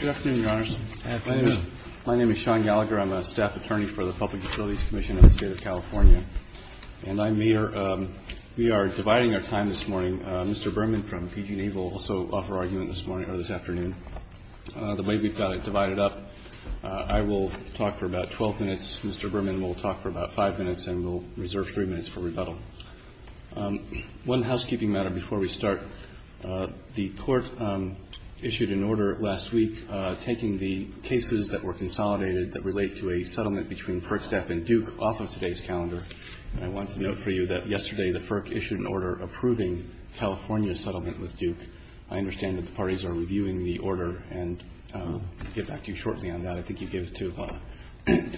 Good afternoon, Your Honors. My name is Sean Gallagher. I'm a staff attorney for the Public Facilities Commission of the State of California. And I'm here, we are dividing our time this morning. Mr. Berman from PG&E will also offer argument this morning or this afternoon. The way we've got it divided up, I will talk for about 12 minutes, Mr. Berman will talk for about five minutes, and we'll reserve three minutes for rebuttal. One housekeeping matter before we start. The Court issued an order last week taking the cases that were consolidated that relate to a settlement between FERC staff and Duke off of today's calendar. And I want to note for you that yesterday the FERC issued an order approving California's settlement with Duke. I understand that the parties are reviewing the order, and I'll get back to you shortly on that. I think you gave it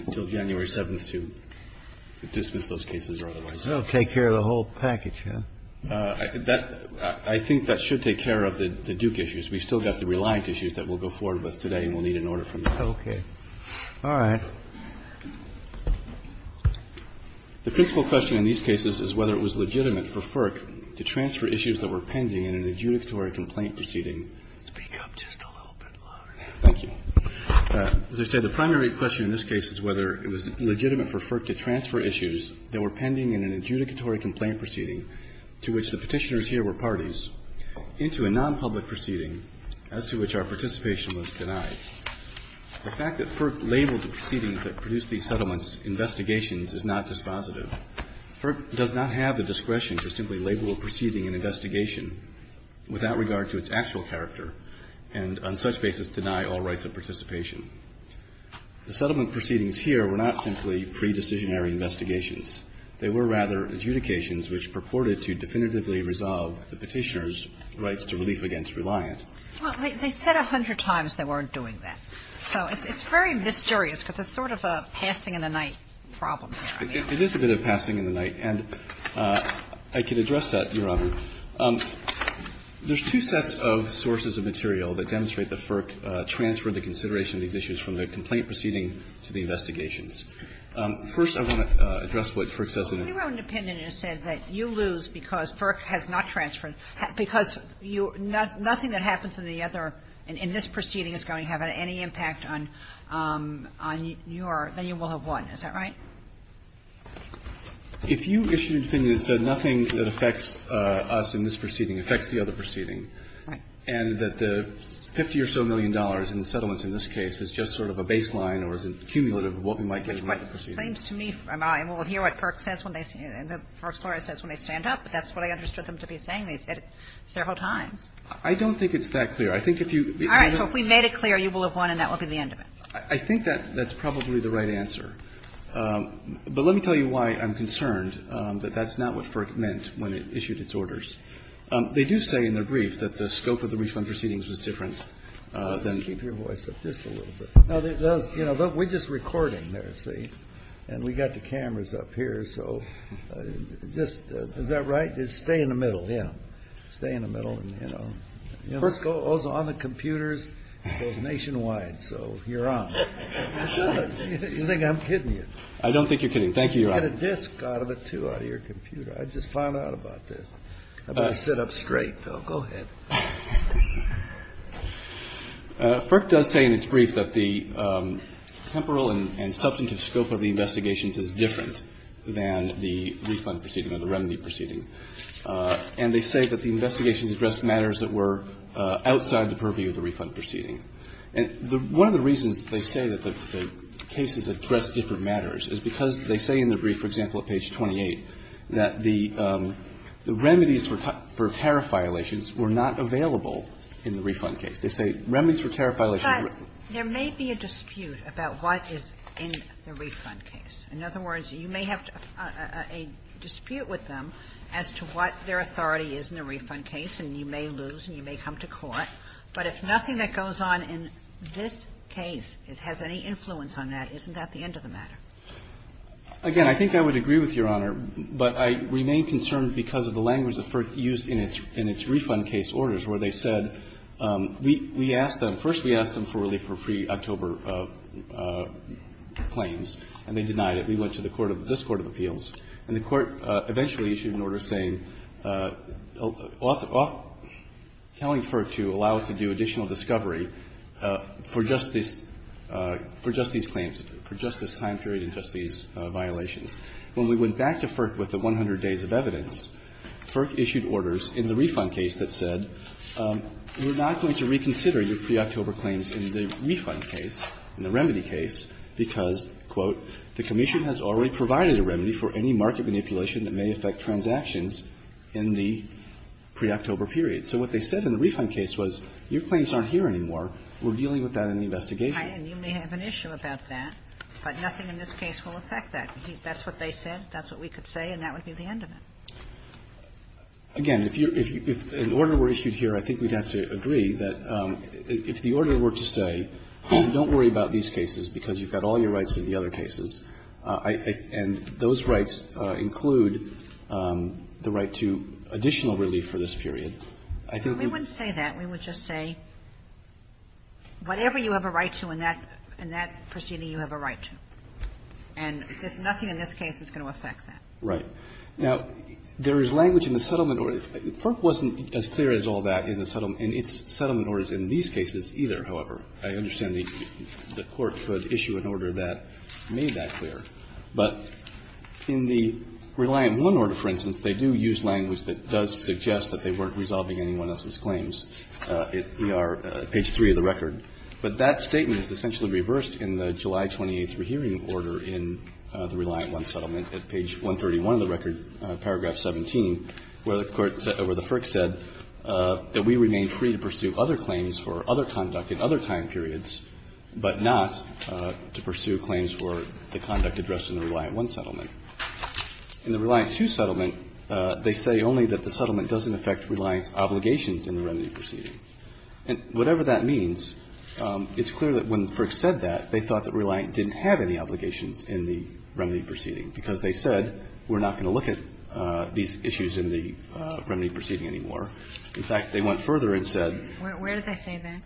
until January 7th to dismiss those cases or otherwise. Take care of the whole package, huh? I think that should take care of the Duke issues. We've still got the Reliant issues that we'll go forward with today, and we'll need an order from you. Okay. All right. The principal question in these cases is whether it was legitimate for FERC to transfer issues that were pending in an adjudicatory complaint proceeding. Speak up just a little bit louder. Thank you. As I said, the primary question in this case is whether it was legitimate for FERC to transfer issues that were pending in an adjudicatory complaint proceeding to which the petitioners here were parties into a non-public proceeding as to which our participation was denied. The fact that FERC labeled the proceedings that produced these settlements investigations is not dispositive. FERC does not have the discretion to simply label a proceeding an investigation without regard to its actual character and on such basis deny all rights of participation. The settlement proceedings here were not simply pre-decisionary investigations. They were rather adjudications which purported to definitively resolve the petitioners' rights to relief against Reliant. Well, they said a hundred times they weren't doing that. So it's very mysterious, but it's sort of a passing in the night problem here. It is a bit of passing in the night, and I can address that, Your Honor. There's two sets of sources of material that demonstrate that FERC transferred the consideration of these issues from the complaint proceeding to the investigations. First, I want to address what FERC says in the case. Kagan. If your own defendant has said that you lose because FERC has not transferred you, because nothing that happens in the other, in this proceeding, is going to have any impact on your, then you will have won. Is that right? If you issued a defendant that said nothing that affects us in this proceeding affects the other proceeding, and that the 50 or so million dollars in the settlements in this case is just sort of a baseline or is a cumulative of what we might get from the proceeding. It seems to me, and we'll hear what FERC says when they stand up, but that's what I understood them to be saying. They said it several times. I don't think it's that clear. I think if you begin to say All right. So if we made it clear, you will have won, and that will be the end of it. I think that's probably the right answer. But let me tell you why I'm concerned that that's not what FERC meant when it issued its orders. They do say in their brief that the scope of the refund proceedings was different than Just keep your voice up just a little bit. You know, we're just recording there, see, and we've got the cameras up here. So just, is that right? Just stay in the middle. Yeah. Stay in the middle and, you know. First goes on the computers. It goes nationwide. So you're on. You think I'm kidding you. I don't think you're kidding. Thank you. You get a disc out of it, too, out of your computer. I just found out about this. I better sit up straight, though. Go ahead. FERC does say in its brief that the temporal and substantive scope of the investigations is different than the refund proceeding or the remedy proceeding. And they say that the investigations addressed matters that were outside the purview of the refund proceeding. And one of the reasons they say that the cases addressed different matters is because they say in the brief, for example, at page 28, that the remedies for tariff violations were not available in the refund case. They say remedies for tariff violations were But there may be a dispute about what is in the refund case. In other words, you may have a dispute with them as to what their authority is in the refund case, and you may lose and you may come to court. But if nothing that goes on in this case has any influence on that, isn't that the end of the matter? Again, I think I would agree with Your Honor, but I remain concerned because of the language that FERC used in its refund case orders, where they said, we asked them. First, we asked them for relief for pre-October claims, and they denied it. We went to the court of this Court of Appeals, and the Court eventually issued an order saying, telling FERC to allow it to do additional discovery for just these claims, for just this time period and just these violations. When we went back to FERC with the 100 days of evidence, FERC issued orders in the refund case that said, we're not going to reconsider your pre-October claims in the refund case, in the remedy case, because, quote, the commission has already provided a remedy for any market manipulation that may affect transactions in the pre-October period. So what they said in the refund case was, your claims aren't here anymore, we're dealing with that in the investigation. And you may have an issue about that, but nothing in this case will affect that. That's what they said, that's what we could say, and that would be the end of it. Again, if you're – if an order were issued here, I think we'd have to agree that if the order were to say, don't worry about these cases because you've got all your rights in the other cases, and those rights include the right to additional relief for this period, I think we would say that. We would just say, whatever you have a right to in that proceeding, you have a right to. And there's nothing in this case that's going to affect that. Right. Now, there is language in the settlement order. FERC wasn't as clear as all that in the settlement – in its settlement orders in these cases either, however. I understand the Court could issue an order that made that clear. But in the Reliant 1 order, for instance, they do use language that does suggest that they weren't resolving anyone else's claims. We are at page 3 of the record. But that statement is essentially reversed in the July 28th rehearing order in the Reliant 1 settlement at page 131 of the record, paragraph 17, where the Court – where the FERC said that we remain free to pursue other claims for other conduct in other time periods, but not to pursue claims for the conduct addressed in the Reliant 1 settlement. In the Reliant 2 settlement, they say only that the settlement doesn't affect Reliant's obligations in the remedy proceeding. And whatever that means, it's clear that when FERC said that, they thought that Reliant didn't have any obligations in the remedy proceeding, because they said we're not going to look at these issues in the remedy proceeding anymore. In fact, they went further and said – Where did they say that?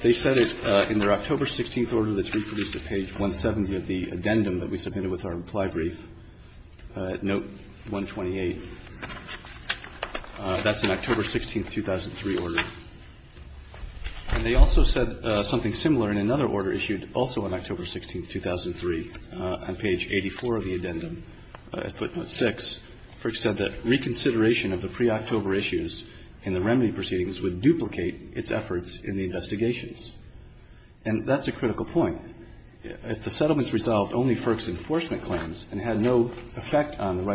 They said it in their October 16th order that's reproduced at page 170 of the addendum that we submitted with our reply brief, note 128. That's an October 16th, 2003 order. And they also said something similar in another order issued also on October 16th, 2003, on page 84 of the addendum, footnote 6. FERC said that reconsideration of the pre-October issues in the remedy proceedings would duplicate its efforts in the investigations. And that's a critical point. If the settlement's resolved only FERC's enforcement claims and had no effect on the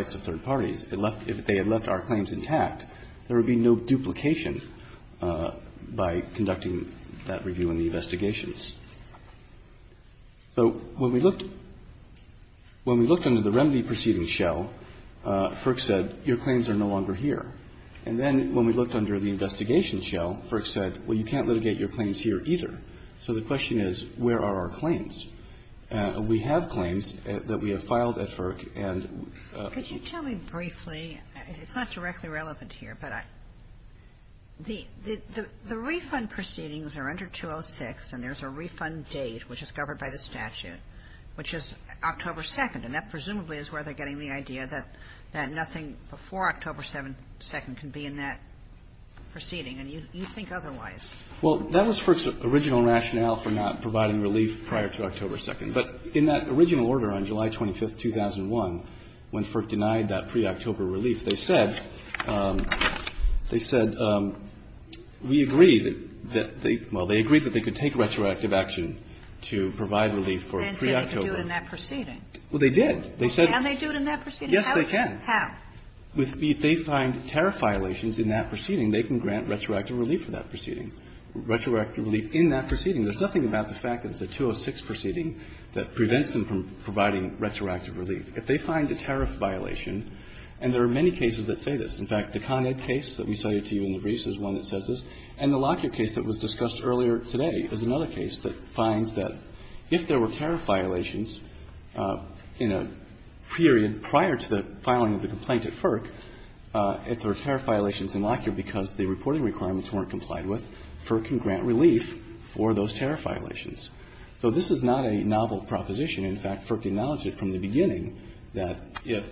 if they had left our claims intact, there would be no duplication by conducting that review in the investigations. So when we looked – when we looked under the remedy proceeding shell, FERC said your claims are no longer here. And then when we looked under the investigation shell, FERC said, well, you can't litigate your claims here either. So the question is, where are our claims? Could you tell me briefly – it's not directly relevant here, but the refund proceedings are under 206, and there's a refund date which is covered by the statute, which is October 2nd. And that presumably is where they're getting the idea that nothing before October 2nd can be in that proceeding, and you think otherwise. Well, that was FERC's original rationale for not providing relief prior to October 2nd. But in that original order on July 25th, 2001, when FERC denied that pre-October relief, they said – they said, we agree that they – well, they agreed that they could take retroactive action to provide relief for pre-October. And said they could do it in that proceeding. Well, they did. They said – Well, can they do it in that proceeding? Yes, they can. How? With the – if they find tariff violations in that proceeding, they can grant retroactive relief for that proceeding. Retroactive relief in that proceeding. There's nothing about the fact that it's a 206 proceeding that prevents them from providing retroactive relief. If they find a tariff violation – and there are many cases that say this. In fact, the Con Ed case that we cited to you in the briefs is one that says this. And the Lockyer case that was discussed earlier today is another case that finds that if there were tariff violations in a period prior to the filing of the complaint at FERC, if there are tariff violations in Lockyer because the reporting requirements weren't complied with, FERC can grant relief for those tariff violations. So this is not a novel proposition. In fact, FERC acknowledged it from the beginning that if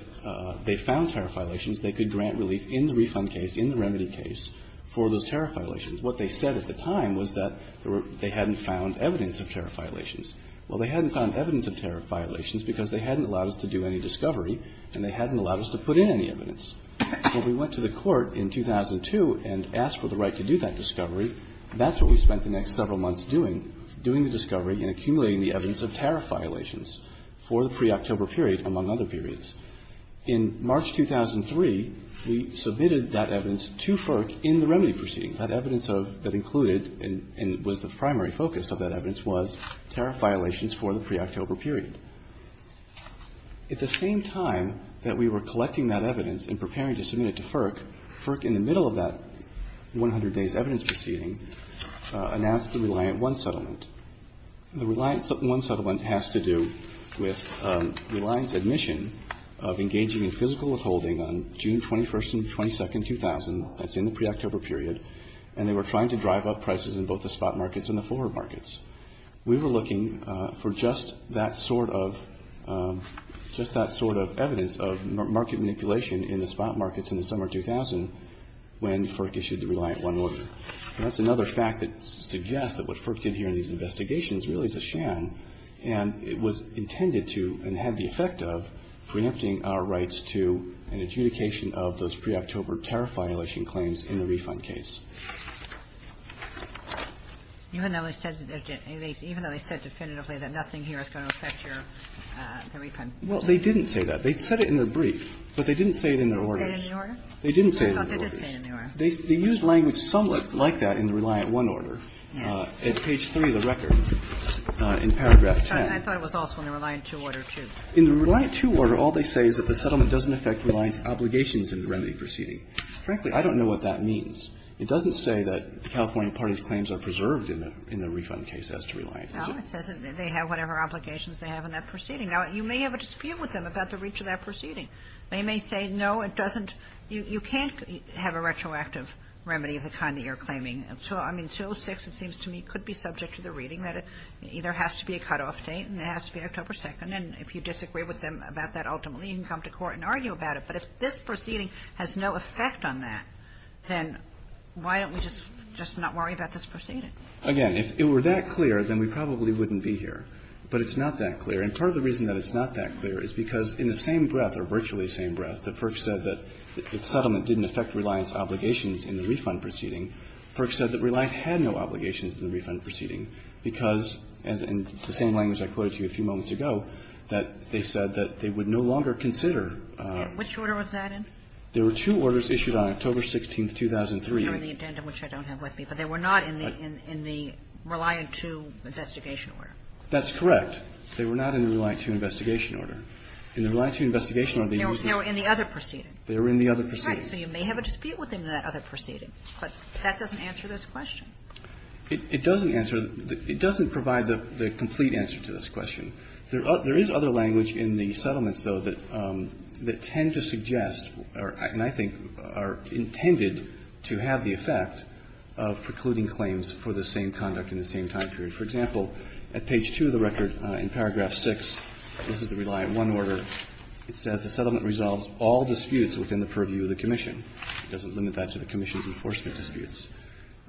they found tariff violations, they could grant relief in the refund case, in the remedy case, for those tariff violations. What they said at the time was that they hadn't found evidence of tariff violations. Well, they hadn't found evidence of tariff violations because they hadn't allowed us to do any discovery and they hadn't allowed us to put in any evidence. Well, we went to the Court in 2002 and asked for the right to do that discovery. That's what we spent the next several months doing, doing the discovery and accumulating the evidence of tariff violations for the pre-October period, among other periods. In March 2003, we submitted that evidence to FERC in the remedy proceeding. That evidence of – that included and was the primary focus of that evidence was tariff violations for the pre-October period. At the same time that we were collecting that evidence and preparing to submit it to FERC, FERC, in the middle of that 100 days evidence proceeding, announced the Reliant I Settlement. The Reliant I Settlement has to do with Reliant's admission of engaging in physical withholding on June 21st and 22nd, 2000, that's in the pre-October period, and they were trying to drive up prices in both the spot markets and the forward markets. We were looking for just that sort of – just that sort of evidence of market manipulation in the spot markets in the summer of 2000 when FERC issued the Reliant I Order. And that's another fact that suggests that what FERC did here in these investigations really is a sham, and it was intended to and had the effect of preempting our rights to an adjudication of those pre-October tariff violation claims in the refund case. Even though they said – even though they said definitively that nothing here is going to affect your – the refund case? Well, they didn't say that. They said it in their brief, but they didn't say it in their orders. They didn't say it in their orders. They did say it in their orders. They used language somewhat like that in the Reliant I Order at page 3 of the record in paragraph 10. I thought it was also in the Reliant II Order, too. In the Reliant II Order, all they say is that the settlement doesn't affect Reliant's obligations in the remedy proceeding. Frankly, I don't know what that means. It doesn't say that the California party's claims are preserved in the refund case as to Reliant. No, it says that they have whatever obligations they have in that proceeding. Now, you may have a dispute with them about the reach of that proceeding. They may say, no, it doesn't – you can't have a retroactive remedy of the kind that you're claiming. I mean, 206, it seems to me, could be subject to the reading that it either has to be a cutoff date and it has to be October 2nd, and if you disagree with them about that ultimately, you can come to court and argue about it. But if this proceeding has no effect on that, then why don't we just not worry about this proceeding? Again, if it were that clear, then we probably wouldn't be here. But it's not that clear. And part of the reason that it's not that clear is because in the same breath, or virtually the same breath, that Perks said that the settlement didn't affect Reliant's obligations in the refund proceeding, Perks said that Reliant had no obligations in the refund proceeding because, in the same language I quoted to you a few moments ago, that they said that they would no longer consider the refund proceeding. And which order was that in? There were two orders issued on October 16th, 2003. They were in the addendum, which I don't have with me. But they were not in the Reliant 2 investigation order. That's correct. They were not in the Reliant 2 investigation order. In the Reliant 2 investigation order, they used the other proceeding. They were in the other proceeding. Okay. So you may have a dispute with them in that other proceeding. But that doesn't answer this question. It doesn't answer the – it doesn't provide the complete answer to this question. There is other language in the settlements, though, that tend to suggest, and I think are intended to have the effect of precluding claims for the same conduct in the same time period. For example, at page 2 of the record, in paragraph 6, this is the Reliant 1 order. It says the settlement resolves all disputes within the purview of the commission. It doesn't limit that to the commission's enforcement disputes.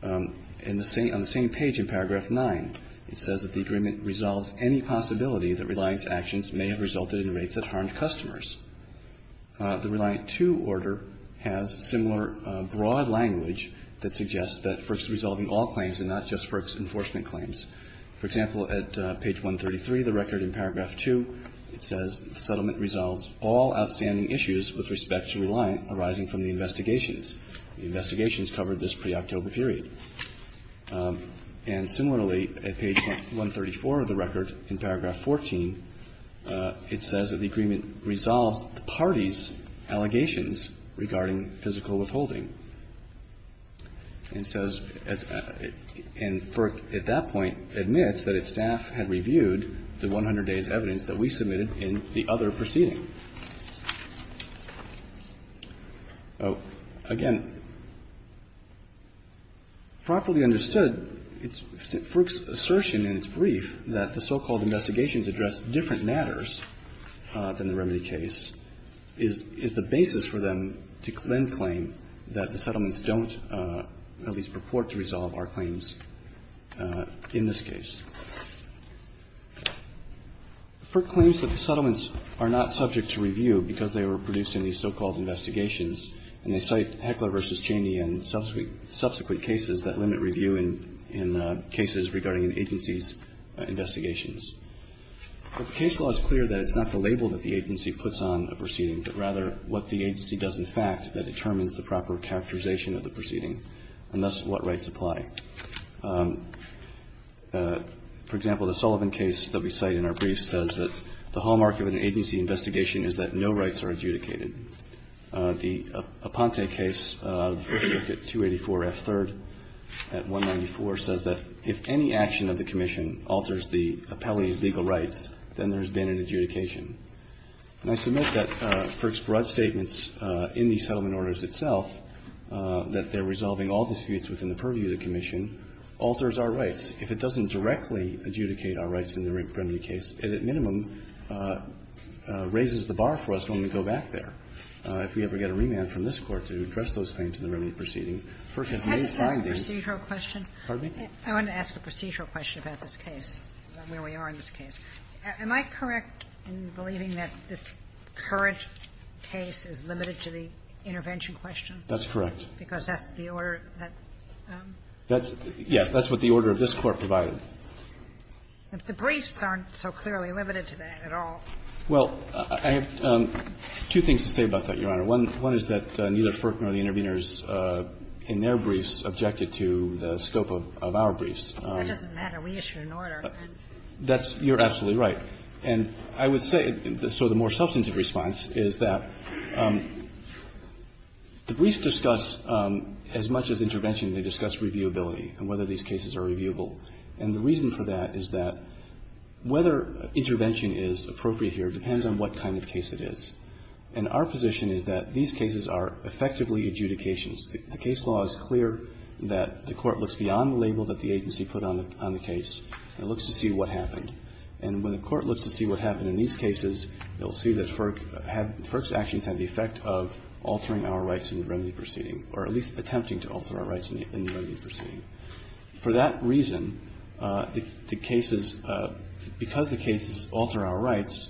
In the same – on the same page in paragraph 9, it says that the agreement resolves any possibility that Reliant's actions may have resulted in rates that harmed customers. The Reliant 2 order has similar broad language that suggests that it's resolving all claims and not just for its enforcement claims. For example, at page 133 of the record in paragraph 2, it says the settlement resolves all outstanding issues with respect to Reliant arising from the investigations. The investigations covered this pre-October period. And similarly, at page 134 of the record in paragraph 14, it says that the agreement resolves the parties' allegations regarding physical withholding. And it says – and FERC at that point admits that its staff had reviewed the 100 days evidence that we submitted in the other proceeding. Again, properly understood, FERC's assertion in its brief that the so-called investigations address different matters than the remedy case is the basis for them to then claim that the settlements don't at least purport to resolve our claims in this case. FERC claims that the settlements are not subject to review because they were produced in these so-called investigations, and they cite Heckler v. Cheney and subsequent cases that limit review in cases regarding an agency's investigations. The case law is clear that it's not the label that the agency puts on a proceeding, but rather what the agency does in fact that determines the proper characterization of the proceeding, and thus what rights apply. For example, the Sullivan case that we cite in our brief says that the hallmark of an agency investigation is that no rights are adjudicated. The Aponte case of Circuit 284F3rd at 194 says that if any action of the commission alters the appellee's legal rights, then there's been an adjudication. And I submit that FERC's broad statements in the settlement orders itself, that they're resolving all disputes within the purview of the commission, alters our rights. If it doesn't directly adjudicate our rights in the remedy case, it at minimum raises the bar for us when we go back there, if we ever get a remand from this Court to address those claims in the remedy proceeding. FERC has made findings. Kagan. Kagan. I want to ask a procedural question about this case, about where we are in this case. Am I correct in believing that this current case is limited to the intervention question? That's correct. Because that's the order that the Court provided. But the briefs aren't so clearly limited to that at all. Well, I have two things to say about that, Your Honor. One is that neither FERC nor the interveners in their briefs objected to the scope of our briefs. That doesn't matter. We issued an order. That's you're absolutely right. And I would say, so the more substantive response is that the briefs discuss as much as intervention, they discuss reviewability and whether these cases are reviewable. And the reason for that is that whether intervention is appropriate here depends on what kind of case it is. And our position is that these cases are effectively adjudications. The case law is clear that the Court looks beyond the label that the agency put on the case and looks to see what happened. And when the Court looks to see what happened in these cases, it will see that FERC had the effect of altering our rights in the remedy proceeding, or at least attempting to alter our rights in the remedy proceeding. For that reason, the cases, because the cases alter our rights,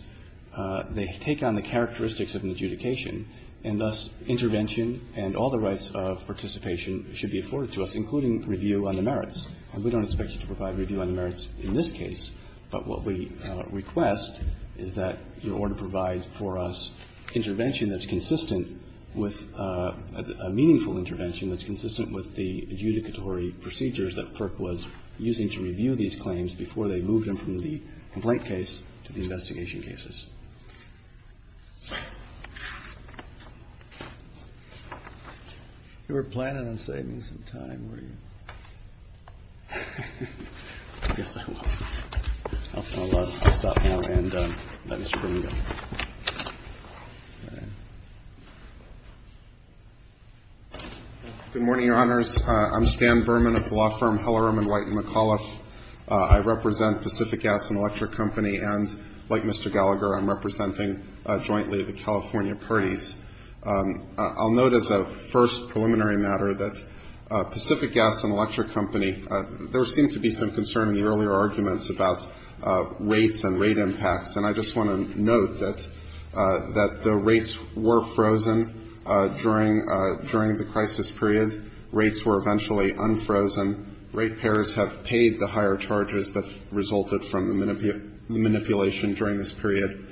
they take on the characteristics of an adjudication, and thus intervention and all the rights of participation should be afforded to us, including review on the merits. And we don't expect you to provide review on the merits in this case. But what we request is that your order provides for us intervention that's consistent with a meaningful intervention that's consistent with the adjudicatory procedures that FERC was using to review these claims before they moved them from the complaint case to the investigation cases. You were planning on saving some time, were you? I guess I was. I'll stop now and let Mr. Berman go. Good morning, Your Honors. I'm Stan Berman of the law firm Hellerum & Whiteney McAuliffe. I represent Pacific Gas & Electric Company, and like Mr. Gallagher, I'm here today representing jointly the California parties. I'll note as a first preliminary matter that Pacific Gas & Electric Company, there seemed to be some concern in the earlier arguments about rates and rate impacts, and I just want to note that the rates were frozen during the crisis period. Rates were eventually unfrozen. Ratepayers have paid the higher charges that resulted from the manipulation during this period,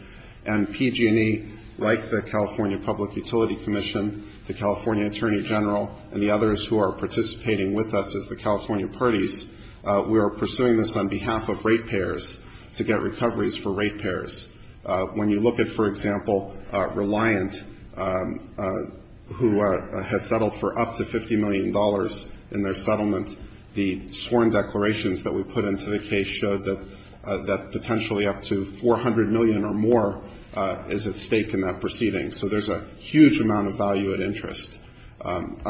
and PG&E, like the California Public Utility Commission, the California Attorney General, and the others who are participating with us as the California parties, we are pursuing this on behalf of ratepayers to get recoveries for ratepayers. When you look at, for example, Reliant, who has settled for up to $50 million in their settlement, the sworn declarations that we put into the case showed that potentially up to $400 million or more is at stake in that proceeding. So there's a huge amount of value at interest. I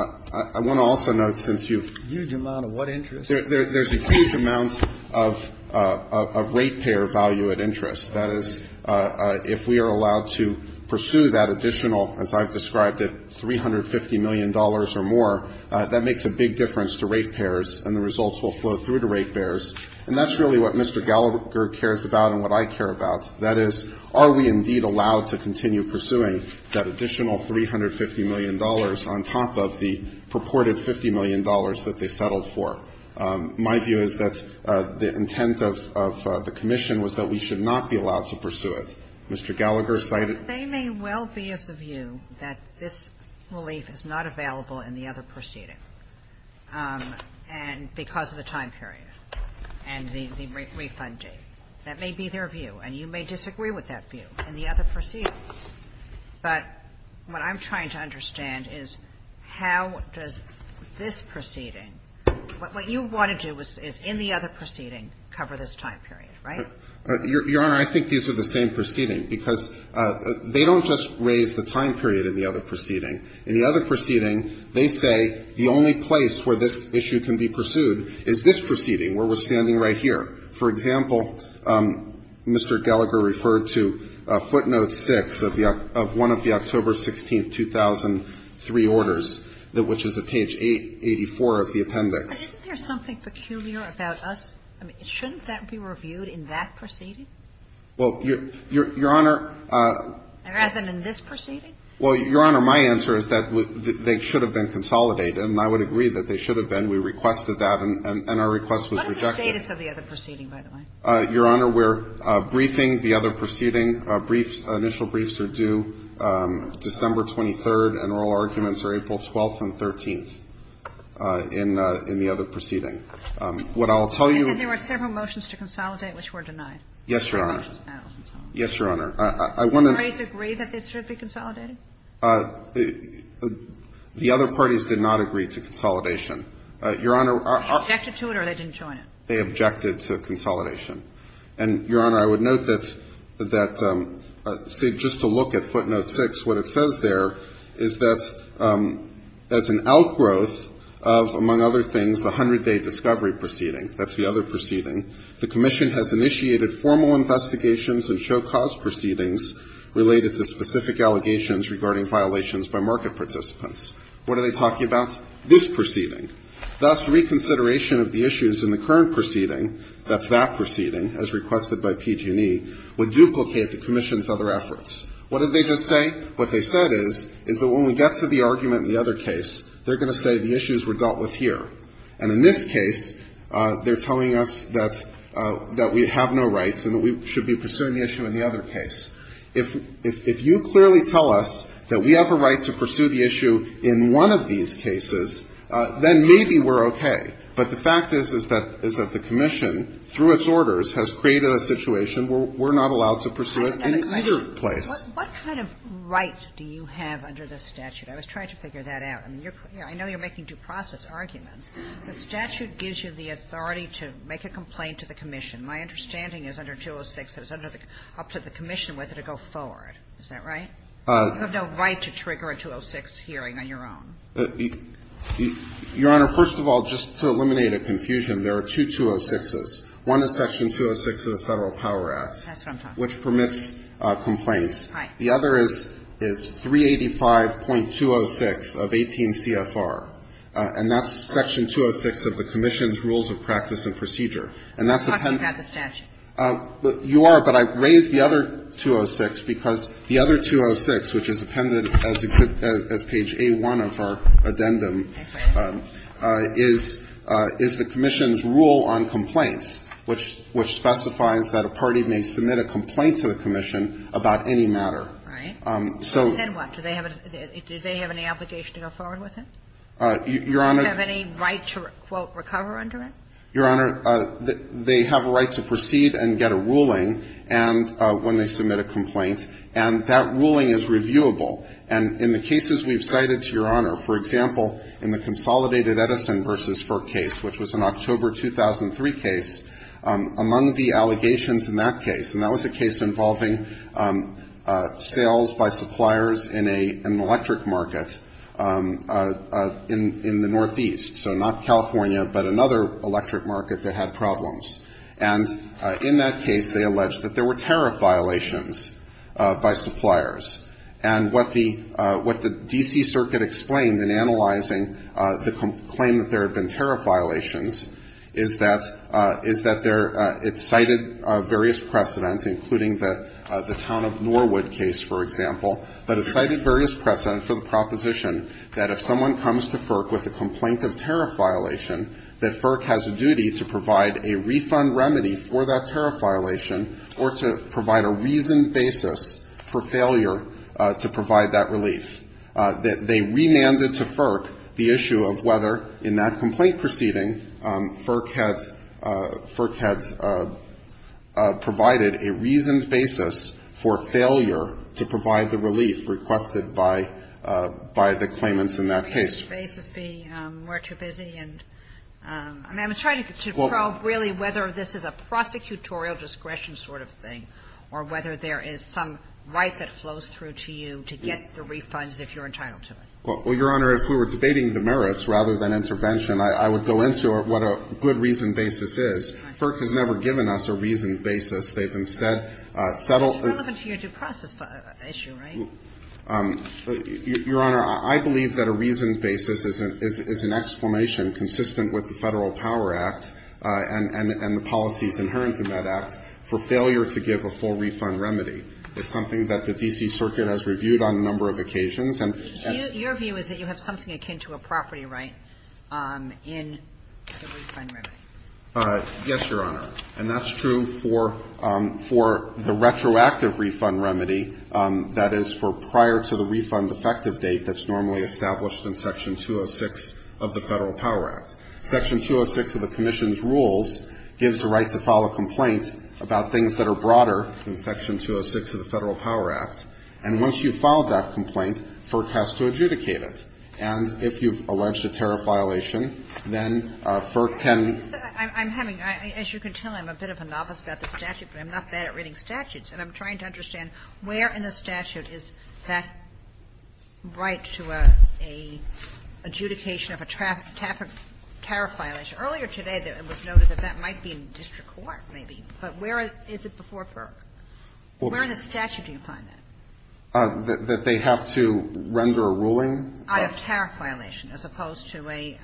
want to also note, since you've ---- A huge amount of what interest? There's a huge amount of ratepayer value at interest. That is, if we are allowed to pursue that additional, as I've described it, $350 million or more, that makes a big difference to ratepayers, and the results will flow through to ratepayers. And that's really what Mr. Gallagher cares about and what I care about. That is, are we indeed allowed to continue pursuing that additional $350 million on top of the purported $50 million that they settled for? My view is that the intent of the commission was that we should not be allowed to pursue it. Mr. Gallagher cited ---- It may well be of the view that this relief is not available in the other proceeding because of the time period and the refund date. That may be their view. And you may disagree with that view in the other proceeding. But what I'm trying to understand is how does this proceeding ---- what you want to do is in the other proceeding cover this time period, right? Your Honor, I think these are the same proceedings, because they don't just raise the time period in the other proceeding. In the other proceeding, they say the only place where this issue can be pursued is this proceeding where we're standing right here. For example, Mr. Gallagher referred to footnote 6 of the ---- of one of the October 16, 2003 orders, which is at page 884 of the appendix. But isn't there something peculiar about us? I mean, shouldn't that be reviewed in that proceeding? Well, Your Honor ---- Rather than in this proceeding? Well, Your Honor, my answer is that they should have been consolidated, and I would agree that they should have been. We requested that, and our request was rejected. What is the status of the other proceeding, by the way? Your Honor, we're briefing the other proceeding. Briefs, initial briefs are due December 23rd, and oral arguments are April 12th and 13th in the other proceeding. What I'll tell you ---- And then there were several motions to consolidate which were denied. Yes, Your Honor. Yes, Your Honor. I want to ---- Did the parties agree that they should be consolidated? The other parties did not agree to consolidation. Your Honor, our ---- They objected to it or they didn't join it? They objected to consolidation. And, Your Honor, I would note that that ---- see, just to look at footnote 6, what it says there is that as an outgrowth of, among other things, the 100-day discovery proceeding, that's the other proceeding, the commission has initiated formal investigations and show-cause proceedings related to specific allegations regarding violations by market participants. What are they talking about? This proceeding. Thus, reconsideration of the issues in the current proceeding, that's that proceeding, as requested by PG&E, would duplicate the commission's other efforts. What did they just say? What they said is, is that when we get to the argument in the other case, they're going to say the issues were dealt with here. And in this case, they're telling us that we have no rights and that we should be pursuing the issue in the other case. If you clearly tell us that we have a right to pursue the issue in one of these cases, then maybe we're okay. But the fact is, is that the commission, through its orders, has created a situation where we're not allowed to pursue it in either place. What kind of right do you have under this statute? I was trying to figure that out. I mean, I know you're making due process arguments. The statute gives you the authority to make a complaint to the commission. My understanding is under 206, it's up to the commission whether to go forward. Is that right? You have no right to trigger a 206 hearing on your own. Your Honor, first of all, just to eliminate a confusion, there are two 206s. One is Section 206 of the Federal Power Act. That's what I'm talking about. It's Section 206 of the Federal Power Act, which permits complaints. The other is 385.206 of 18 CFR. And that's Section 206 of the commission's Rules of Practice and Procedure. And that's a pendant. I'm talking about the statute. You are, but I raised the other 206 because the other 206, which is appended as page A1 of our addendum, is the commission's rule on complaints, which specifies that a party may submit a complaint to the commission about any matter. Right. Then what? Do they have any obligation to go forward with it? Your Honor. Do they have any right to, quote, recover under it? Your Honor, they have a right to proceed and get a ruling when they submit a complaint. And that ruling is reviewable. And in the cases we've cited, Your Honor, for example, in the Consolidated Edison v. Ferk case, which was an October 2003 case, among the allegations in that case, and that was a case involving sales by suppliers in an electric market in the northeast, so not California, but another electric market that had problems. And in that case, they alleged that there were tariff violations by suppliers. And what the D.C. Circuit explained in analyzing the claim that there had been tariff violations is that there, it cited various precedent, including the town of Norwood case, for example, but it cited various precedent for the proposition that if someone comes to FERC with a complaint of tariff violation, that FERC has a duty to provide a refund remedy for that tariff violation or to provide a reasoned basis for failure to provide that relief. They remanded to FERC the issue of whether in that complaint proceeding, FERC had provided a reasoned basis for failure to provide the relief requested by the claimants in that case. And I'm trying to probe really whether this is a prosecutorial discretion sort of thing or whether there is some right that flows through to you to get the refunds if you're entitled to it. Well, Your Honor, if we were debating the merits rather than intervention, I would go into what a good reasoned basis is. FERC has never given us a reasoned basis. They've instead settled the ---- It's relevant to your due process issue, right? Your Honor, I believe that a reasoned basis is an exclamation consistent with the Federal Power Act and the policies inherent in that act for failure to give a full refund remedy. It's something that the D.C. Circuit has reviewed on a number of occasions. And ---- Your view is that you have something akin to a property right in the refund remedy. Yes, Your Honor. And that's true for the retroactive refund remedy, that is, for prior to the refund effective date that's normally established in Section 206 of the Federal Power Act. Section 206 of the commission's rules gives the right to file a complaint about things that are broader than Section 206 of the Federal Power Act. And once you've filed that complaint, FERC has to adjudicate it. And if you've alleged a tariff violation, then FERC can ---- I'm having ---- as you can tell, I'm a bit of a novice about the statute, but I'm not bad at reading statutes. And I'm trying to understand where in the statute is that right to an adjudication of a traffic ---- tariff violation. Earlier today, it was noted that that might be in district court, maybe. But where is it before FERC? Where in the statute do you find that? That they have to render a ruling? I have tariff violation, as opposed to a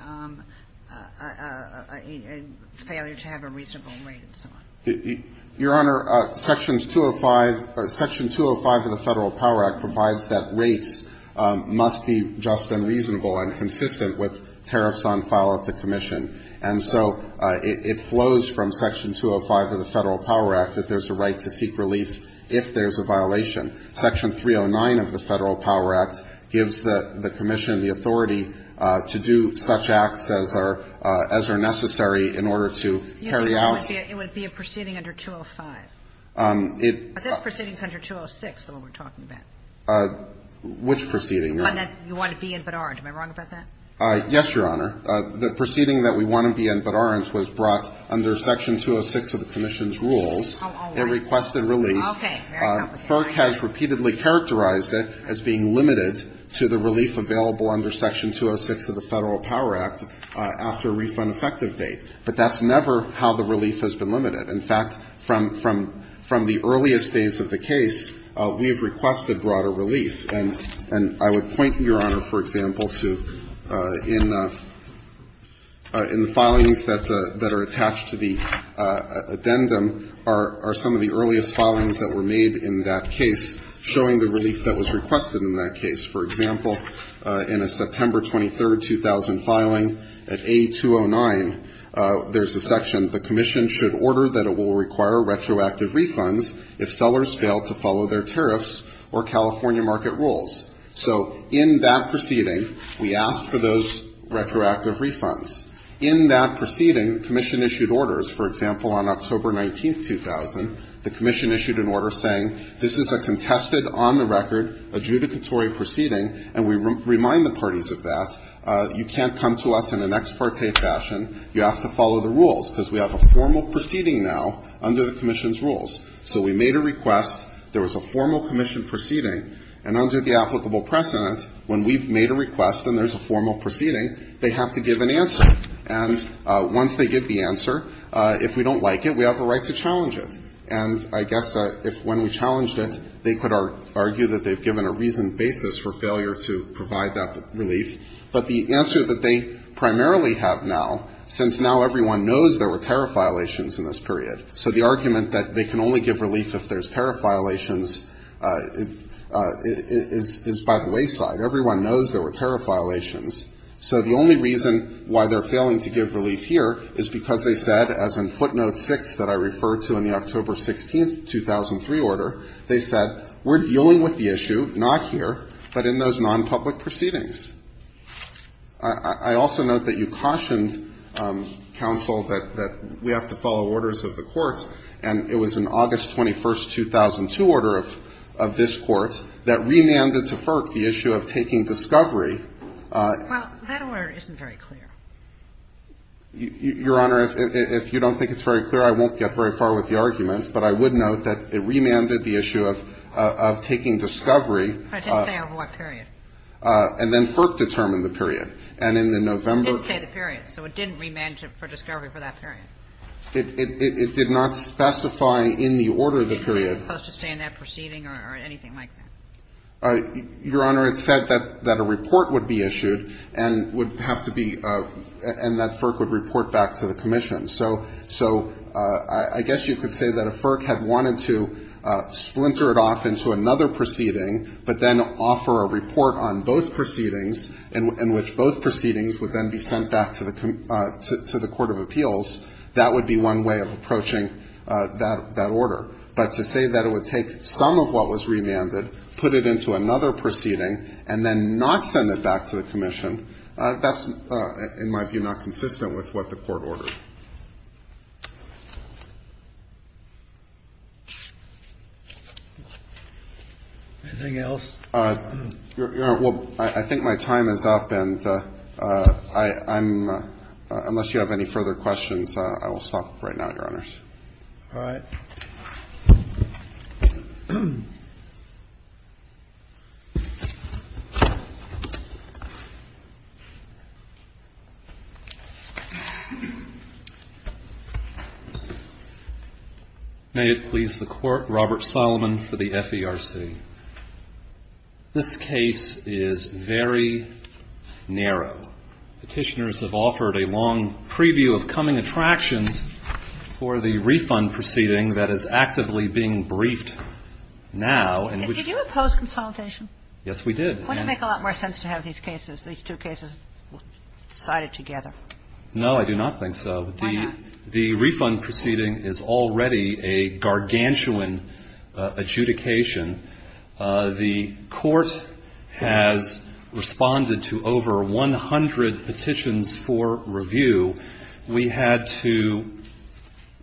failure to have a reasonable rate and so on. Your Honor, Sections 205 of the Federal Power Act provides that rates must be just and reasonable and consistent with tariffs on file at the commission. And so it flows from Section 205 of the Federal Power Act that there's a right to seek relief if there's a violation. Section 309 of the Federal Power Act gives the commission the authority to do such acts as are necessary in order to carry out ---- It would be a proceeding under 205. But this proceeding is under 206, the one we're talking about. Which proceeding, Your Honor? The one that you want to be in, but aren't. Am I wrong about that? Yes, Your Honor. The proceeding that we want to be in, but aren't, was brought under Section 206 of the commission's rules. It requested relief. Okay. FERC has repeatedly characterized it as being limited to the relief available under Section 206 of the Federal Power Act after a refund effective date. But that's never how the relief has been limited. In fact, from the earliest days of the case, we have requested broader relief. And I would point, Your Honor, for example, to in the filings that are attached to the addendum are some of the earliest filings that were made in that case, showing the relief that was requested in that case. For example, in a September 23, 2000 filing, at A209, there's a section, the commission should order that it will require retroactive refunds if sellers fail to follow their tariffs or California market rules. So in that proceeding, we ask for those retroactive refunds. In that proceeding, the commission issued orders. For example, on October 19, 2000, the commission issued an order saying this is a contested, on the record, adjudicatory proceeding, and we remind the parties of that. You can't come to us in an ex parte fashion. You have to follow the rules, because we have a formal proceeding now under the commission's rules. So we made a request. There was a formal commission proceeding. They have to give an answer. And once they give the answer, if we don't like it, we have the right to challenge it. And I guess if when we challenged it, they could argue that they've given a reasoned basis for failure to provide that relief. But the answer that they primarily have now, since now everyone knows there were tariff violations in this period, so the argument that they can only give relief if there's tariff violations is by the wayside. Everyone knows there were tariff violations. So the only reason why they're failing to give relief here is because they said, as in footnote six that I referred to in the October 16, 2003 order, they said we're dealing with the issue, not here, but in those nonpublic proceedings. I also note that you cautioned, counsel, that we have to follow orders of the court, and it was in the August 21, 2002 order of this Court, that remanded to FERC the issue of taking discovery. Well, that order isn't very clear. Your Honor, if you don't think it's very clear, I won't get very far with the argument, but I would note that it remanded the issue of taking discovery. But it didn't say of what period. And then FERC determined the period. And in the November. It didn't say the period. So it didn't remand for discovery for that period. It did not specify in the order the period. It wasn't supposed to stay in that proceeding or anything like that. Your Honor, it said that a report would be issued and would have to be – and that FERC would report back to the commission. So I guess you could say that if FERC had wanted to splinter it off into another proceeding, but then offer a report on both proceedings, in which both proceedings would then be sent back to the Court of Appeals, that would be one way of approaching that order. But to say that it would take some of what was remanded, put it into another proceeding, and then not send it back to the commission, that's, in my view, not consistent with what the Court ordered. Anything else? Well, I think my time is up. And I'm – unless you have any further questions, I will stop right now, Your Honors. All right. May it please the Court, Robert Solomon for the FERC. This case is very narrow. Petitioners have offered a long preview of coming attractions for the refund proceeding that is actively being briefed now. Did you oppose consolidation? Yes, we did. Wouldn't it make a lot more sense to have these cases, these two cases sided together? No, I do not think so. Why not? I think the refund proceeding is already a gargantuan adjudication. The Court has responded to over 100 petitions for review. We had to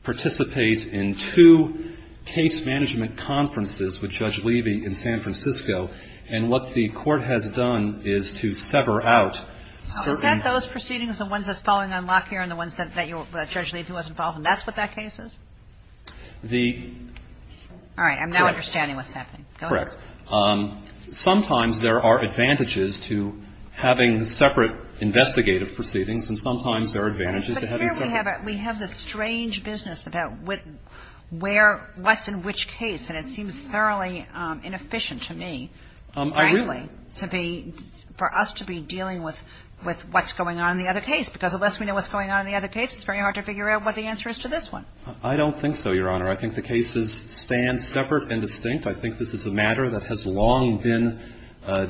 participate in two case management conferences with Judge Levy in San Francisco. And what the Court has done is to sever out certain – And then you have a case, which you are talking about here, and the ones that you're – that Judge Levy was involved in. That's what that case is? The – I'm now understanding what's happening. Correct. Sometimes there are advantages to having separate investigative proceedings and sometimes there are advantages to having separate – But here we have the strange business about what – where – what's in which case. And it seems thoroughly inefficient to me – I really – I don't know what's going on in the other case. It's very hard to figure out what the answer is to this one. I don't think so, Your Honor. I think the cases stand separate and distinct. I think this is a matter that has long been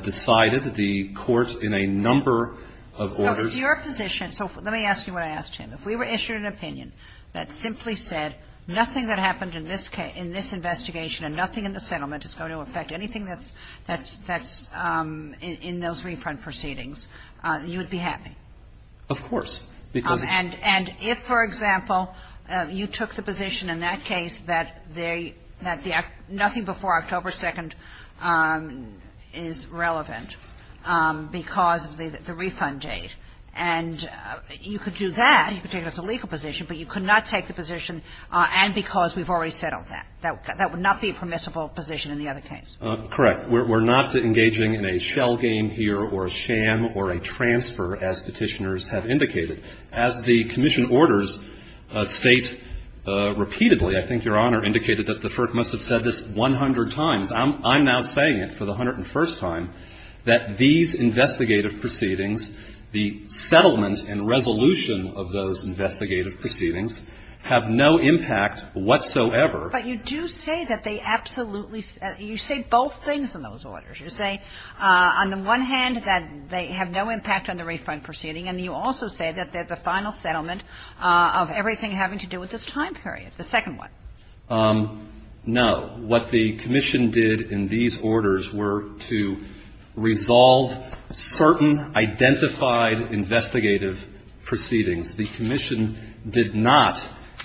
decided. The courts in a number of orders – So it's your position – so let me ask you what I asked him. If we were issued an opinion that simply said nothing that happened in this case – in this investigation and nothing in the settlement is going to affect anything that's – that's in those re-front proceedings, you would be happy? Of course. And if, for example, you took the position in that case that they – that nothing before October 2nd is relevant because of the refund date, and you could do that, you could take it as a legal position, but you could not take the position and because we've already settled that. That would not be a permissible position in the other case. Correct. We're not engaging in a shell game here or a sham or a transfer, as Petitioners have indicated. As the commission orders State repeatedly, I think Your Honor, indicated that the FERC must have said this 100 times. I'm now saying it for the 101st time, that these investigative proceedings, the settlement and resolution of those investigative proceedings, have no impact whatsoever. But you do say that they absolutely – you say both things in those orders. You say on the one hand that they have no impact on the re-front proceeding, and you also say that there's a final settlement of everything having to do with this time period, the second one. No. What the commission did in these orders were to resolve certain identified investigative proceedings. The commission did not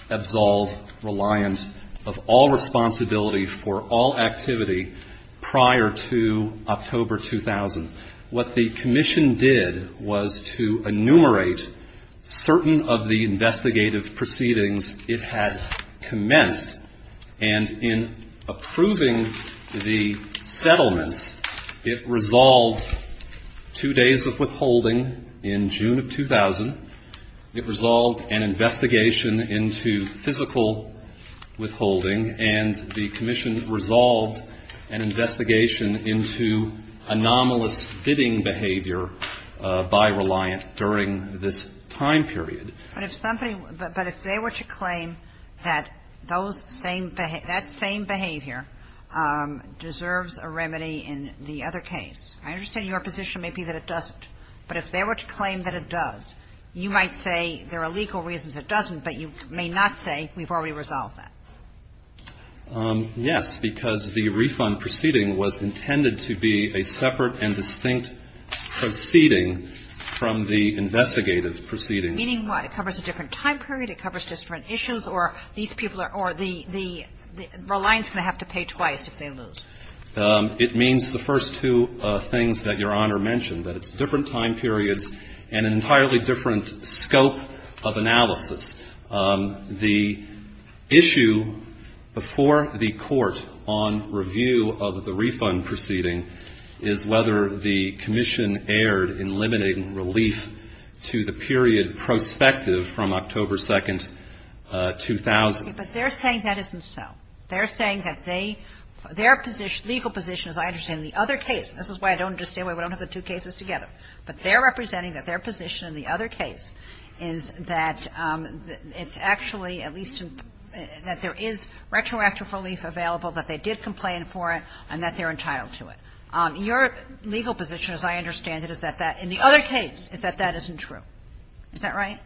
absolve reliance of all responsibility for all activity prior to October 2000. What the commission did was to enumerate certain of the investigative proceedings it had commenced. And in approving the settlements, it resolved two days of withholding in June of 2000. It resolved an investigation into physical withholding. And the commission resolved an investigation into anomalous bidding behavior by reliance during this time period. But if somebody – but if they were to claim that those same – that same behavior deserves a remedy in the other case, I understand your position may be that it doesn't. But if they were to claim that it does, you might say there are legal reasons it doesn't, but you may not say we've already resolved that. Yes. Because the refund proceeding was intended to be a separate and distinct proceeding from the investigative proceedings. Meaning what? It covers a different time period? It covers different issues? Or these people are – or the reliance is going to have to pay twice if they lose? It means the first two things that Your Honor mentioned, that it's different time periods and an entirely different scope of analysis. The issue before the court on review of the refund proceeding is whether the commission erred in limiting relief to the period prospective from October 2, 2000. But they're saying that isn't so. They're saying that they – their legal position, as I understand it, in the other case – this is why I don't understand why we don't have the two cases together – but they're representing that their position in the other case is that it's actually at least – that there is retroactive relief available, that they did complain for it, and that they're entitled to it. Your legal position, as I understand it, is that that – in the other case, is that that isn't true. Is that right?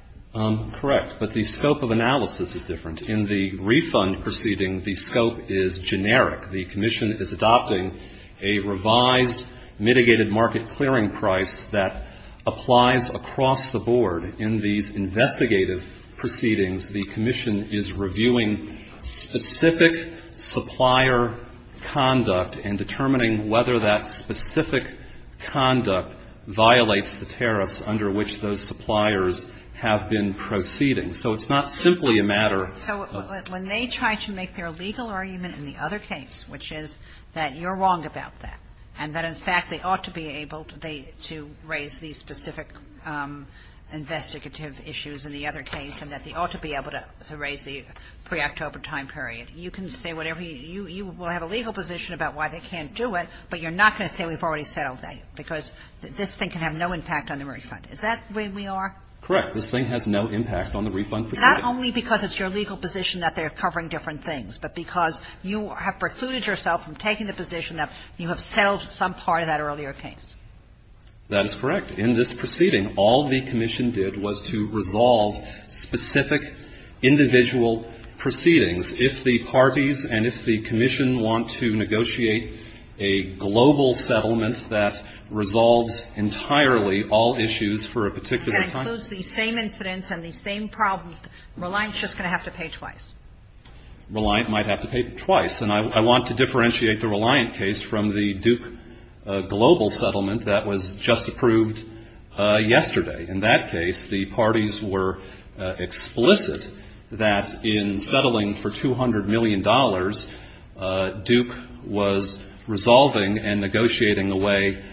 Correct. But the scope of analysis is different. In the refund proceeding, the scope is generic. The commission is adopting a revised mitigated market clearing price that applies across the board. In these investigative proceedings, the commission is reviewing specific supplier conduct and determining whether that specific conduct violates the tariffs under which those suppliers have been proceeding. So it's not simply a matter of – So when they try to make their legal argument in the other case, which is that you're wrong about that, and that, in fact, they ought to be able to raise these specific investigative issues in the other case, and that they ought to be able to raise the pre-October time period, you can say whatever – you will have a legal position about why they can't do it, but you're not going to say we've already settled that, because this thing can have no impact on the refund. Is that where we are? Correct. This thing has no impact on the refund proceeding. Not only because it's your legal position that they're covering different things, but because you have precluded yourself from taking the position that you have settled some part of that earlier case. That is correct. In this proceeding, all the commission did was to resolve specific individual proceedings. If the parties and if the commission want to negotiate a global settlement that resolves entirely all issues for a particular time – It includes these same incidents and these same problems. Reliant is just going to have to pay twice. Reliant might have to pay twice. And I want to differentiate the Reliant case from the Duke global settlement that was just approved yesterday. In that case, the parties were explicit that in settling for $200 million, Duke was resolving and negotiating away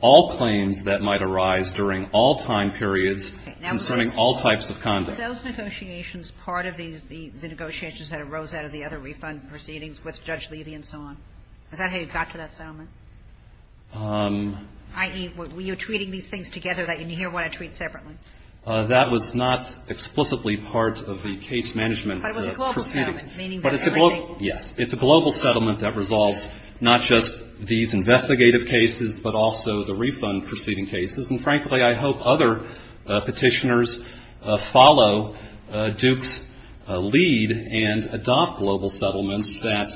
all claims that might arise during all time periods concerning all types of conduct. Okay. Now, were those negotiations part of the negotiations that arose out of the other refund proceedings with Judge Levy and so on? Is that how you got to that settlement? I.e., were you treating these things together? Did you hear what I treat separately? That was not explicitly part of the case management proceedings. But it was a global settlement, meaning that everything – not just these investigative cases, but also the refund proceeding cases. And, frankly, I hope other petitioners follow Duke's lead and adopt global settlements that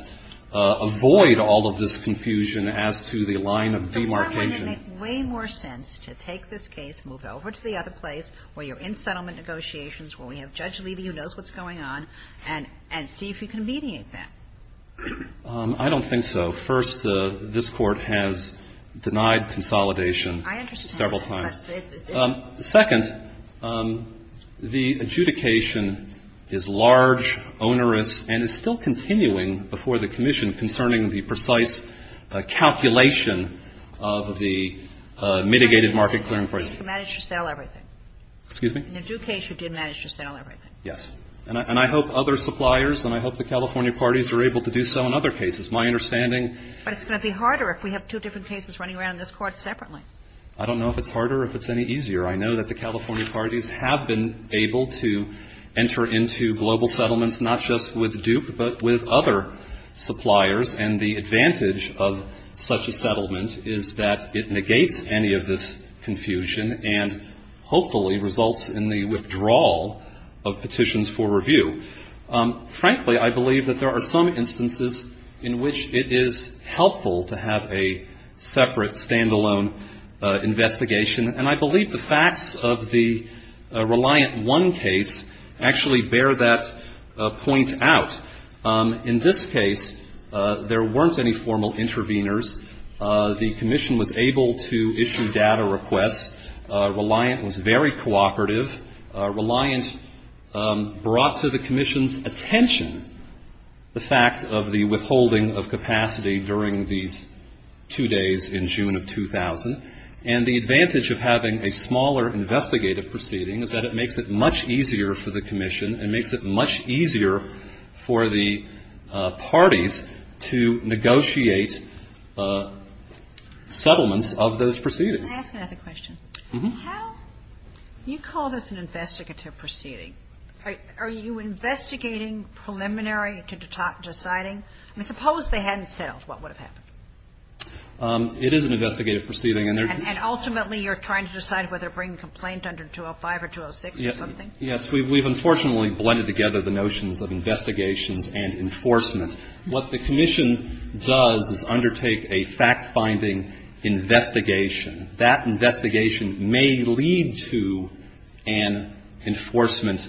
avoid all of this confusion as to the line of demarcation. But wouldn't it make way more sense to take this case, move it over to the other place where you're in settlement negotiations, where we have Judge Levy who knows what's going on, and see if you can mediate that? I don't think so. First, this Court has denied consolidation several times. Second, the adjudication is large, onerous, and is still continuing before the commission concerning the precise calculation of the mitigated market clearing process. You managed to sell everything. Excuse me? In the Duke case, you did manage to sell everything. Yes. And I hope other suppliers and I hope the California parties are able to do so in other cases. My understanding – But it's going to be harder if we have two different cases running around in this Court separately. I don't know if it's harder or if it's any easier. I know that the California parties have been able to enter into global settlements not just with Duke, but with other suppliers. And the advantage of such a settlement is that it negates any of this confusion and hopefully results in the withdrawal of petitions for review. Frankly, I believe that there are some instances in which it is helpful to have a separate, standalone investigation. And I believe the facts of the Reliant 1 case actually bear that point out. In this case, there weren't any formal interveners. The commission was able to issue data requests. Reliant was very cooperative. Reliant brought to the commission's attention the fact of the withholding of capacity during these two days in June of 2000. And the advantage of having a smaller investigative proceeding is that it makes it much easier for the commission. It makes it much easier for the parties to negotiate settlements of those proceedings. Can I ask another question? Mm-hmm. How do you call this an investigative proceeding? Are you investigating preliminary to deciding? I mean, suppose they hadn't settled. What would have happened? It is an investigative proceeding. And ultimately you're trying to decide whether to bring a complaint under 205 or 206 or something? Yes. We've unfortunately blended together the notions of investigations and enforcement. What the commission does is undertake a fact-finding investigation. That investigation may lead to an enforcement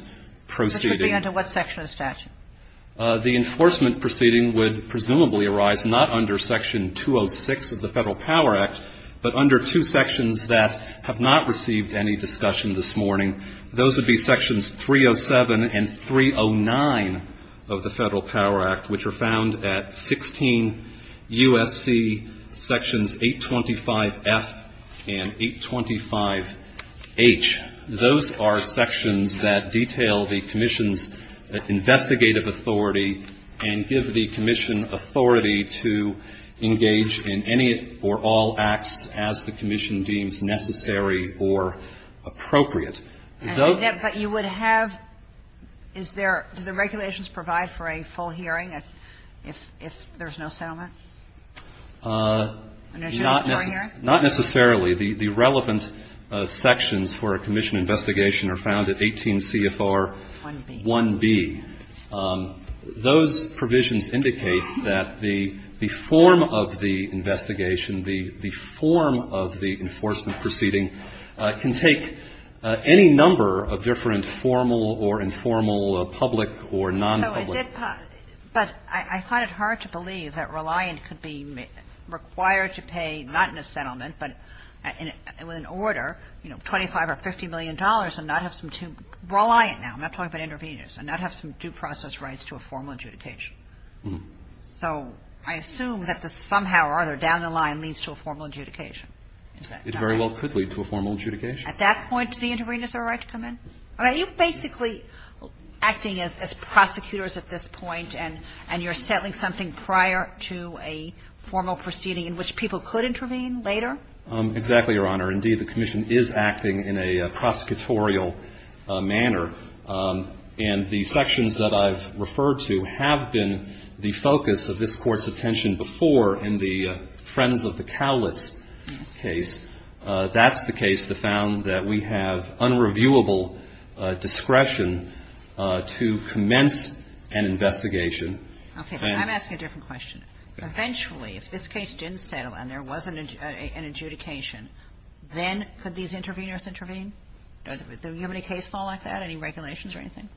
proceeding. Which would be under what section of the statute? The enforcement proceeding would presumably arise not under Section 206 of the Federal Power Act, but under two sections that have not received any discussion this morning. Those would be Sections 307 and 309 of the Federal Power Act, which are found at 16 U.S.C. Sections 825F and 825H. Those are sections that detail the commission's investigative authority and give the commission authority to engage in any or all acts as the commission deems necessary or appropriate. But you would have – is there – do the regulations provide for a full hearing if there's no settlement? Not necessarily. Not necessarily. The relevant sections for a commission investigation are found at 18 C.F.R. 1B. Those provisions indicate that the form of the investigation, the form of the enforcement proceeding can take any number of different formal or informal public or nonpublic But I find it hard to believe that Reliant could be required to pay, not in a settlement, but with an order, you know, $25 or $50 million and not have some – Reliant now, I'm not talking about intervenors – and not have some due process rights to a formal adjudication. So I assume that somehow or other, down the line, leads to a formal adjudication. It very well could lead to a formal adjudication. At that point, do the intervenors have a right to come in? Are you basically acting as prosecutors at this point and you're settling something prior to a formal proceeding in which people could intervene later? Exactly, Your Honor. Indeed, the commission is acting in a prosecutorial manner. And the sections that I've referred to have been the focus of this Court's attention before in the Friends of the Cowlitz case. That's the case that found that we have unreviewable discretion to commence an investigation. Okay. And I'm asking a different question. Eventually, if this case didn't settle and there wasn't an adjudication, then could these intervenors intervene? Do you have any case file like that? Any regulations or anything?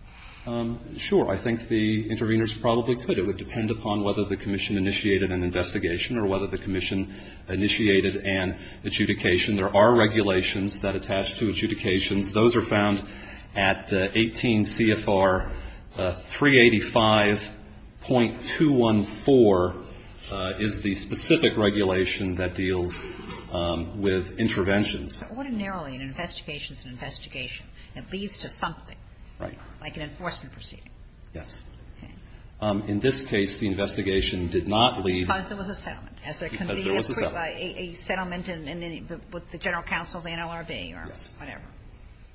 Sure. I think the intervenors probably could. It would depend upon whether the commission initiated an investigation or whether the commission initiated an adjudication. There are regulations that attach to adjudications. Those are found at 18 C.F.R. 385.214 is the specific regulation that deals with interventions. So ordinarily, an investigation is an investigation. It leads to something. Right. Like an enforcement proceeding. Yes. Okay. In this case, the investigation did not lead. Because there was a settlement. Because there was a settlement. A settlement with the general counsel of the NLRB or whatever.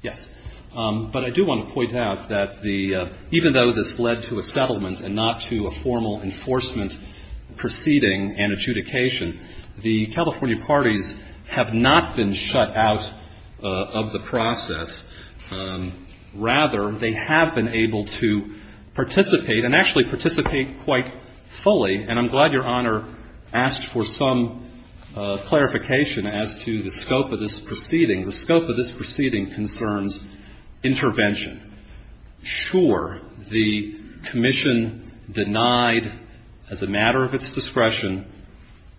Yes. But I do want to point out that the — even though this led to a settlement and not to a formal enforcement proceeding and adjudication, the California parties have not been shut out of the process. Rather, they have been able to participate and actually participate quite fully and I'm glad Your Honor asked for some clarification as to the scope of this proceeding. The scope of this proceeding concerns intervention. Sure, the commission denied, as a matter of its discretion,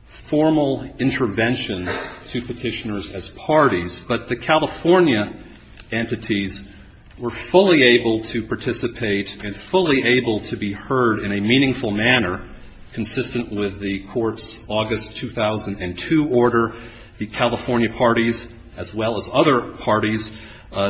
formal intervention to Petitioners as parties. But the California entities were fully able to participate and fully able to be heard in a meaningful manner consistent with the Court's August 2002 order. The California parties, as well as other parties,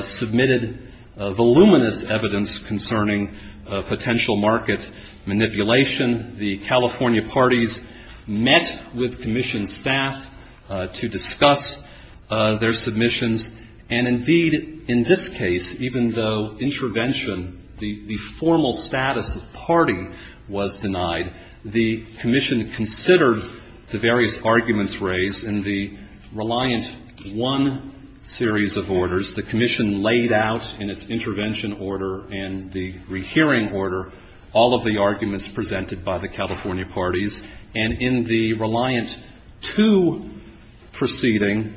submitted voluminous evidence concerning potential market manipulation. The California parties met with commission staff to discuss their submissions. And indeed, in this case, even though intervention, the formal status of party was denied, the commission considered the various arguments raised in the Reliant I series of orders. The commission laid out in its intervention order and the rehearing order all of the arguments presented by the California parties. And in the Reliant II proceeding,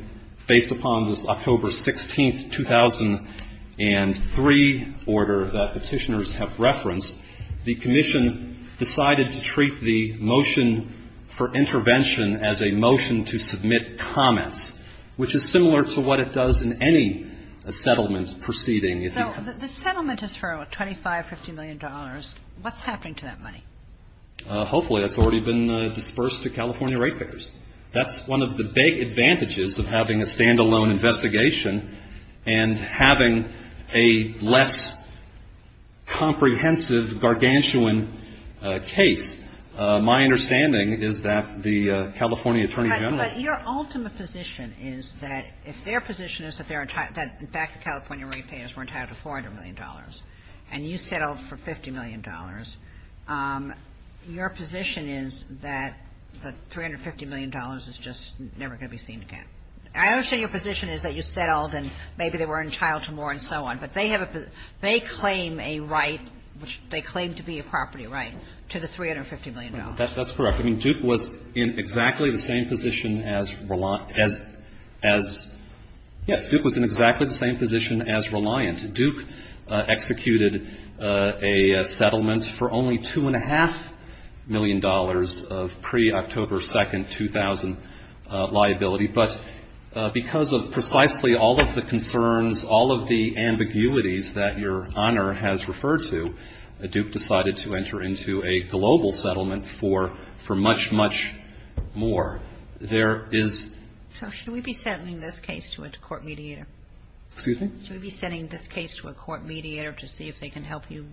based upon this October 16, 2003 order that Petitioners have referenced, the commission decided to treat the motion for intervention as a motion to submit comments, which is similar to what it does in any settlement proceeding. If you can ---- So the settlement is for $25, $50 million. What's happening to that money? Hopefully, that's already been dispersed to California ratepayers. That's one of the big advantages of having a stand-alone investigation and having a less comprehensive, gargantuan case. My understanding is that the California attorney general ---- But your ultimate position is that if their position is that they're entitled to ---- in fact, the California ratepayers were entitled to $400 million, and you settled for $50 million. Your position is that the $350 million is just never going to be seen again. I understand your position is that you settled and maybe they were entitled to more and so on. But they claim a right, which they claim to be a property right, to the $350 million. That's correct. I mean, Duke was in exactly the same position as Reliant as ---- Yes, Duke was in exactly the same position as Reliant. Duke executed a settlement for only $2.5 million of pre-October 2nd, 2000 liability. But because of precisely all of the concerns, all of the ambiguities that Your Honor has referred to, Duke decided to enter into a global settlement for much, much more. There is ---- So should we be sending this case to a court mediator? Excuse me? Should we be sending this case to a court mediator to see if they can help you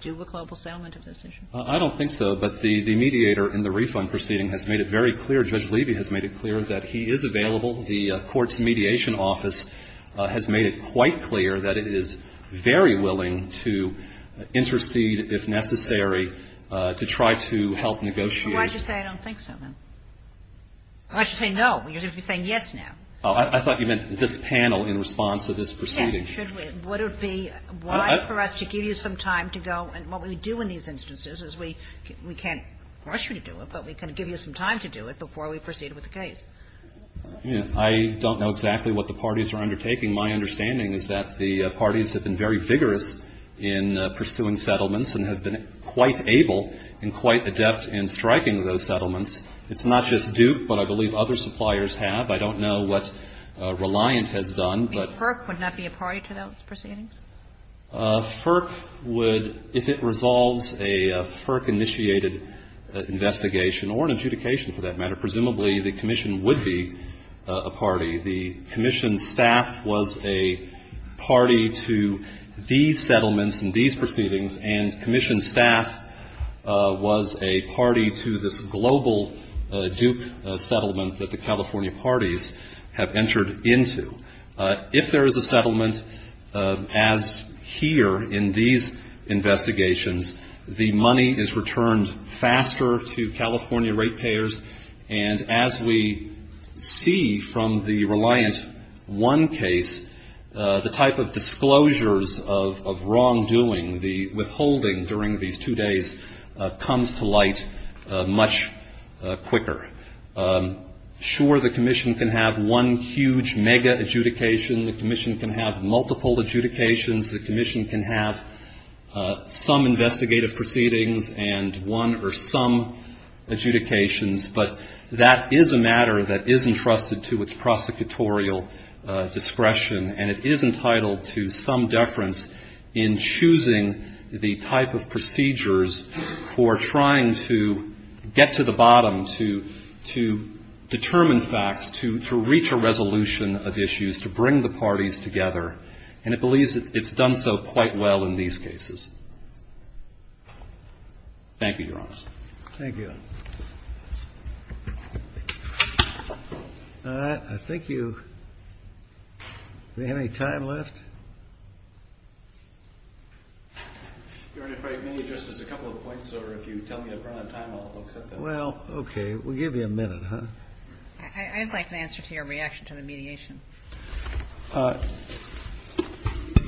do a global settlement of this issue? I don't think so. But the mediator in the refund proceeding has made it very clear, Judge Levy has made it clear, that he is available. The court's mediation office has made it quite clear that it is very willing to intercede if necessary to try to help negotiate. Why did you say I don't think so, then? Why did you say no? You're going to be saying yes now. I thought you meant this panel in response to this proceeding. Yes. Should we? Would it be wise for us to give you some time to go? And what we do in these instances is we can't rush you to do it, but we can give you some time to do it before we proceed with the case. I don't know exactly what the parties are undertaking. My understanding is that the parties have been very vigorous in pursuing settlements and have been quite able and quite adept in striking those settlements. It's not just Duke, but I believe other suppliers have. I don't know what Reliant has done, but. But FERC would not be a party to those proceedings? FERC would, if it resolves a FERC-initiated investigation, or an adjudication for that matter, presumably the commission would be a party. The commission staff was a party to these settlements and these proceedings, and commission staff was a party to this global Duke settlement that the California parties have entered into. If there is a settlement, as here in these investigations, the money is returned faster to California rate payers. And as we see from the Reliant 1 case, the type of disclosures of wrongdoing, the withholding during these two days, comes to light much quicker. Sure, the commission can have one huge mega adjudication. The commission can have multiple adjudications. The commission can have some investigative proceedings and one or some adjudications. But that is a matter that is entrusted to its prosecutorial discretion, and it is entitled to some deference in choosing the type of procedures for trying to get to the bottom, to determine facts, to reach a resolution of issues, to bring the parties together. And it believes it's done so quite well in these cases. Thank you, Your Honor. Thank you. All right. I think you, do we have any time left? Your Honor, if I may, just as a couple of points, or if you tell me to run out of time, I'll accept that. Well, okay. We'll give you a minute, huh? I'd like an answer to your reaction to the mediation.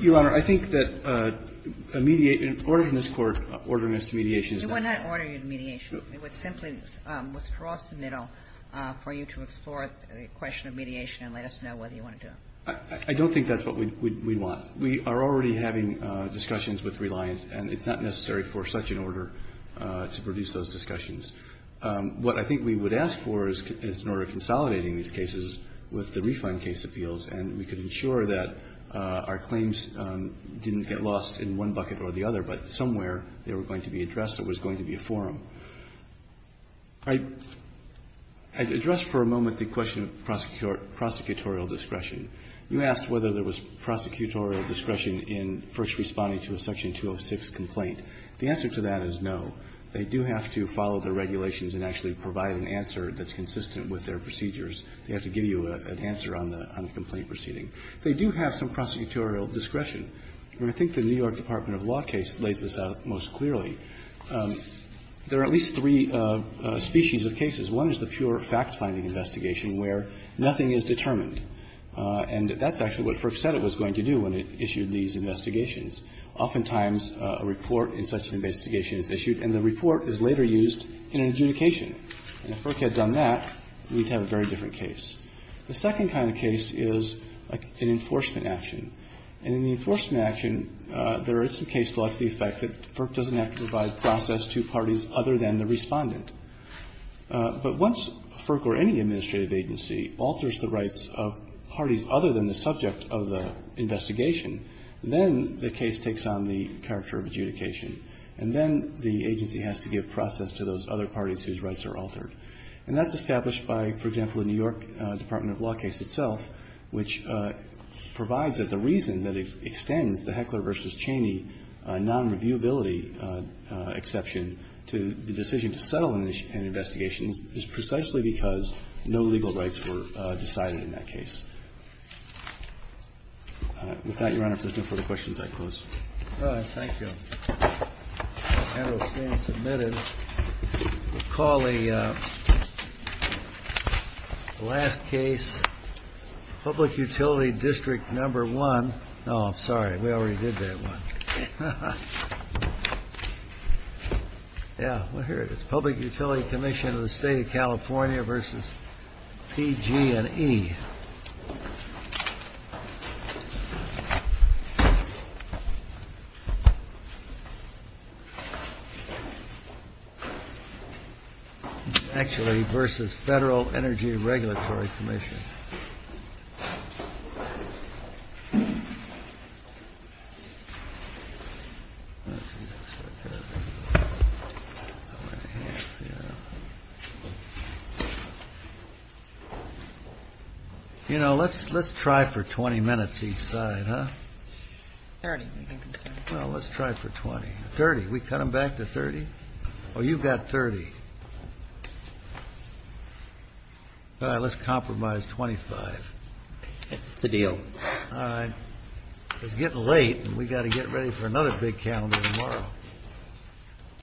Your Honor, I think that a mediation, an order in this Court, ordering us to mediation is not an order. You are not ordering a mediation. It would simply cross the middle for you to explore the question of mediation and let us know whether you want to do it. I don't think that's what we want. We are already having discussions with Reliant, and it's not necessary for such an order to produce those discussions. What I think we would ask for is an order consolidating these cases with the refund case appeals, and we could ensure that our claims didn't get lost in one bucket or the other, but somewhere they were going to be addressed. There was going to be a forum. I'd address for a moment the question of prosecutorial discretion. You asked whether there was prosecutorial discretion in first responding to a Section 206 complaint. The answer to that is no. They do have to follow the regulations and actually provide an answer that's consistent with their procedures. They have to give you an answer on the complaint proceeding. They do have some prosecutorial discretion. And I think the New York Department of Law case lays this out most clearly. There are at least three species of cases. One is the pure fact-finding investigation where nothing is determined, and that's actually what FERC said it was going to do when it issued these investigations. Oftentimes a report in such an investigation is issued, and the report is later used in an adjudication. And if FERC had done that, we'd have a very different case. The second kind of case is an enforcement action. And in the enforcement action, there is some case law to the effect that FERC doesn't have to provide process to parties other than the Respondent. But once FERC or any administrative agency alters the rights of parties other than the subject of the investigation, then the case takes on the character of adjudication, and then the agency has to give process to those other parties whose rights are altered. And that's established by, for example, the New York Department of Law case itself, which provides that the reason that it extends the Heckler v. Cheney nonreviewability exception to the decision to settle an investigation is precisely because no legal rights were decided in that case. With that, Your Honor, if there's no further questions, I close. All right. Thank you. And we'll stand submitted. We'll call the last case, Public Utility District Number 1. Oh, I'm sorry. We already did that one. Yeah. Well, here it is. Public Utility Commission of the State of California v. PG&E. Actually, versus Federal Energy Regulatory Commission. You know, let's try for 20 minutes each side, huh? 30, I think. Well, let's try for 20. 30. We cut them back to 30? Oh, you've got 30. All right. We're going to call it a day. Just compromise 25. It's a deal. All right. It's getting late. And we've got to get ready for another big calendar tomorrow.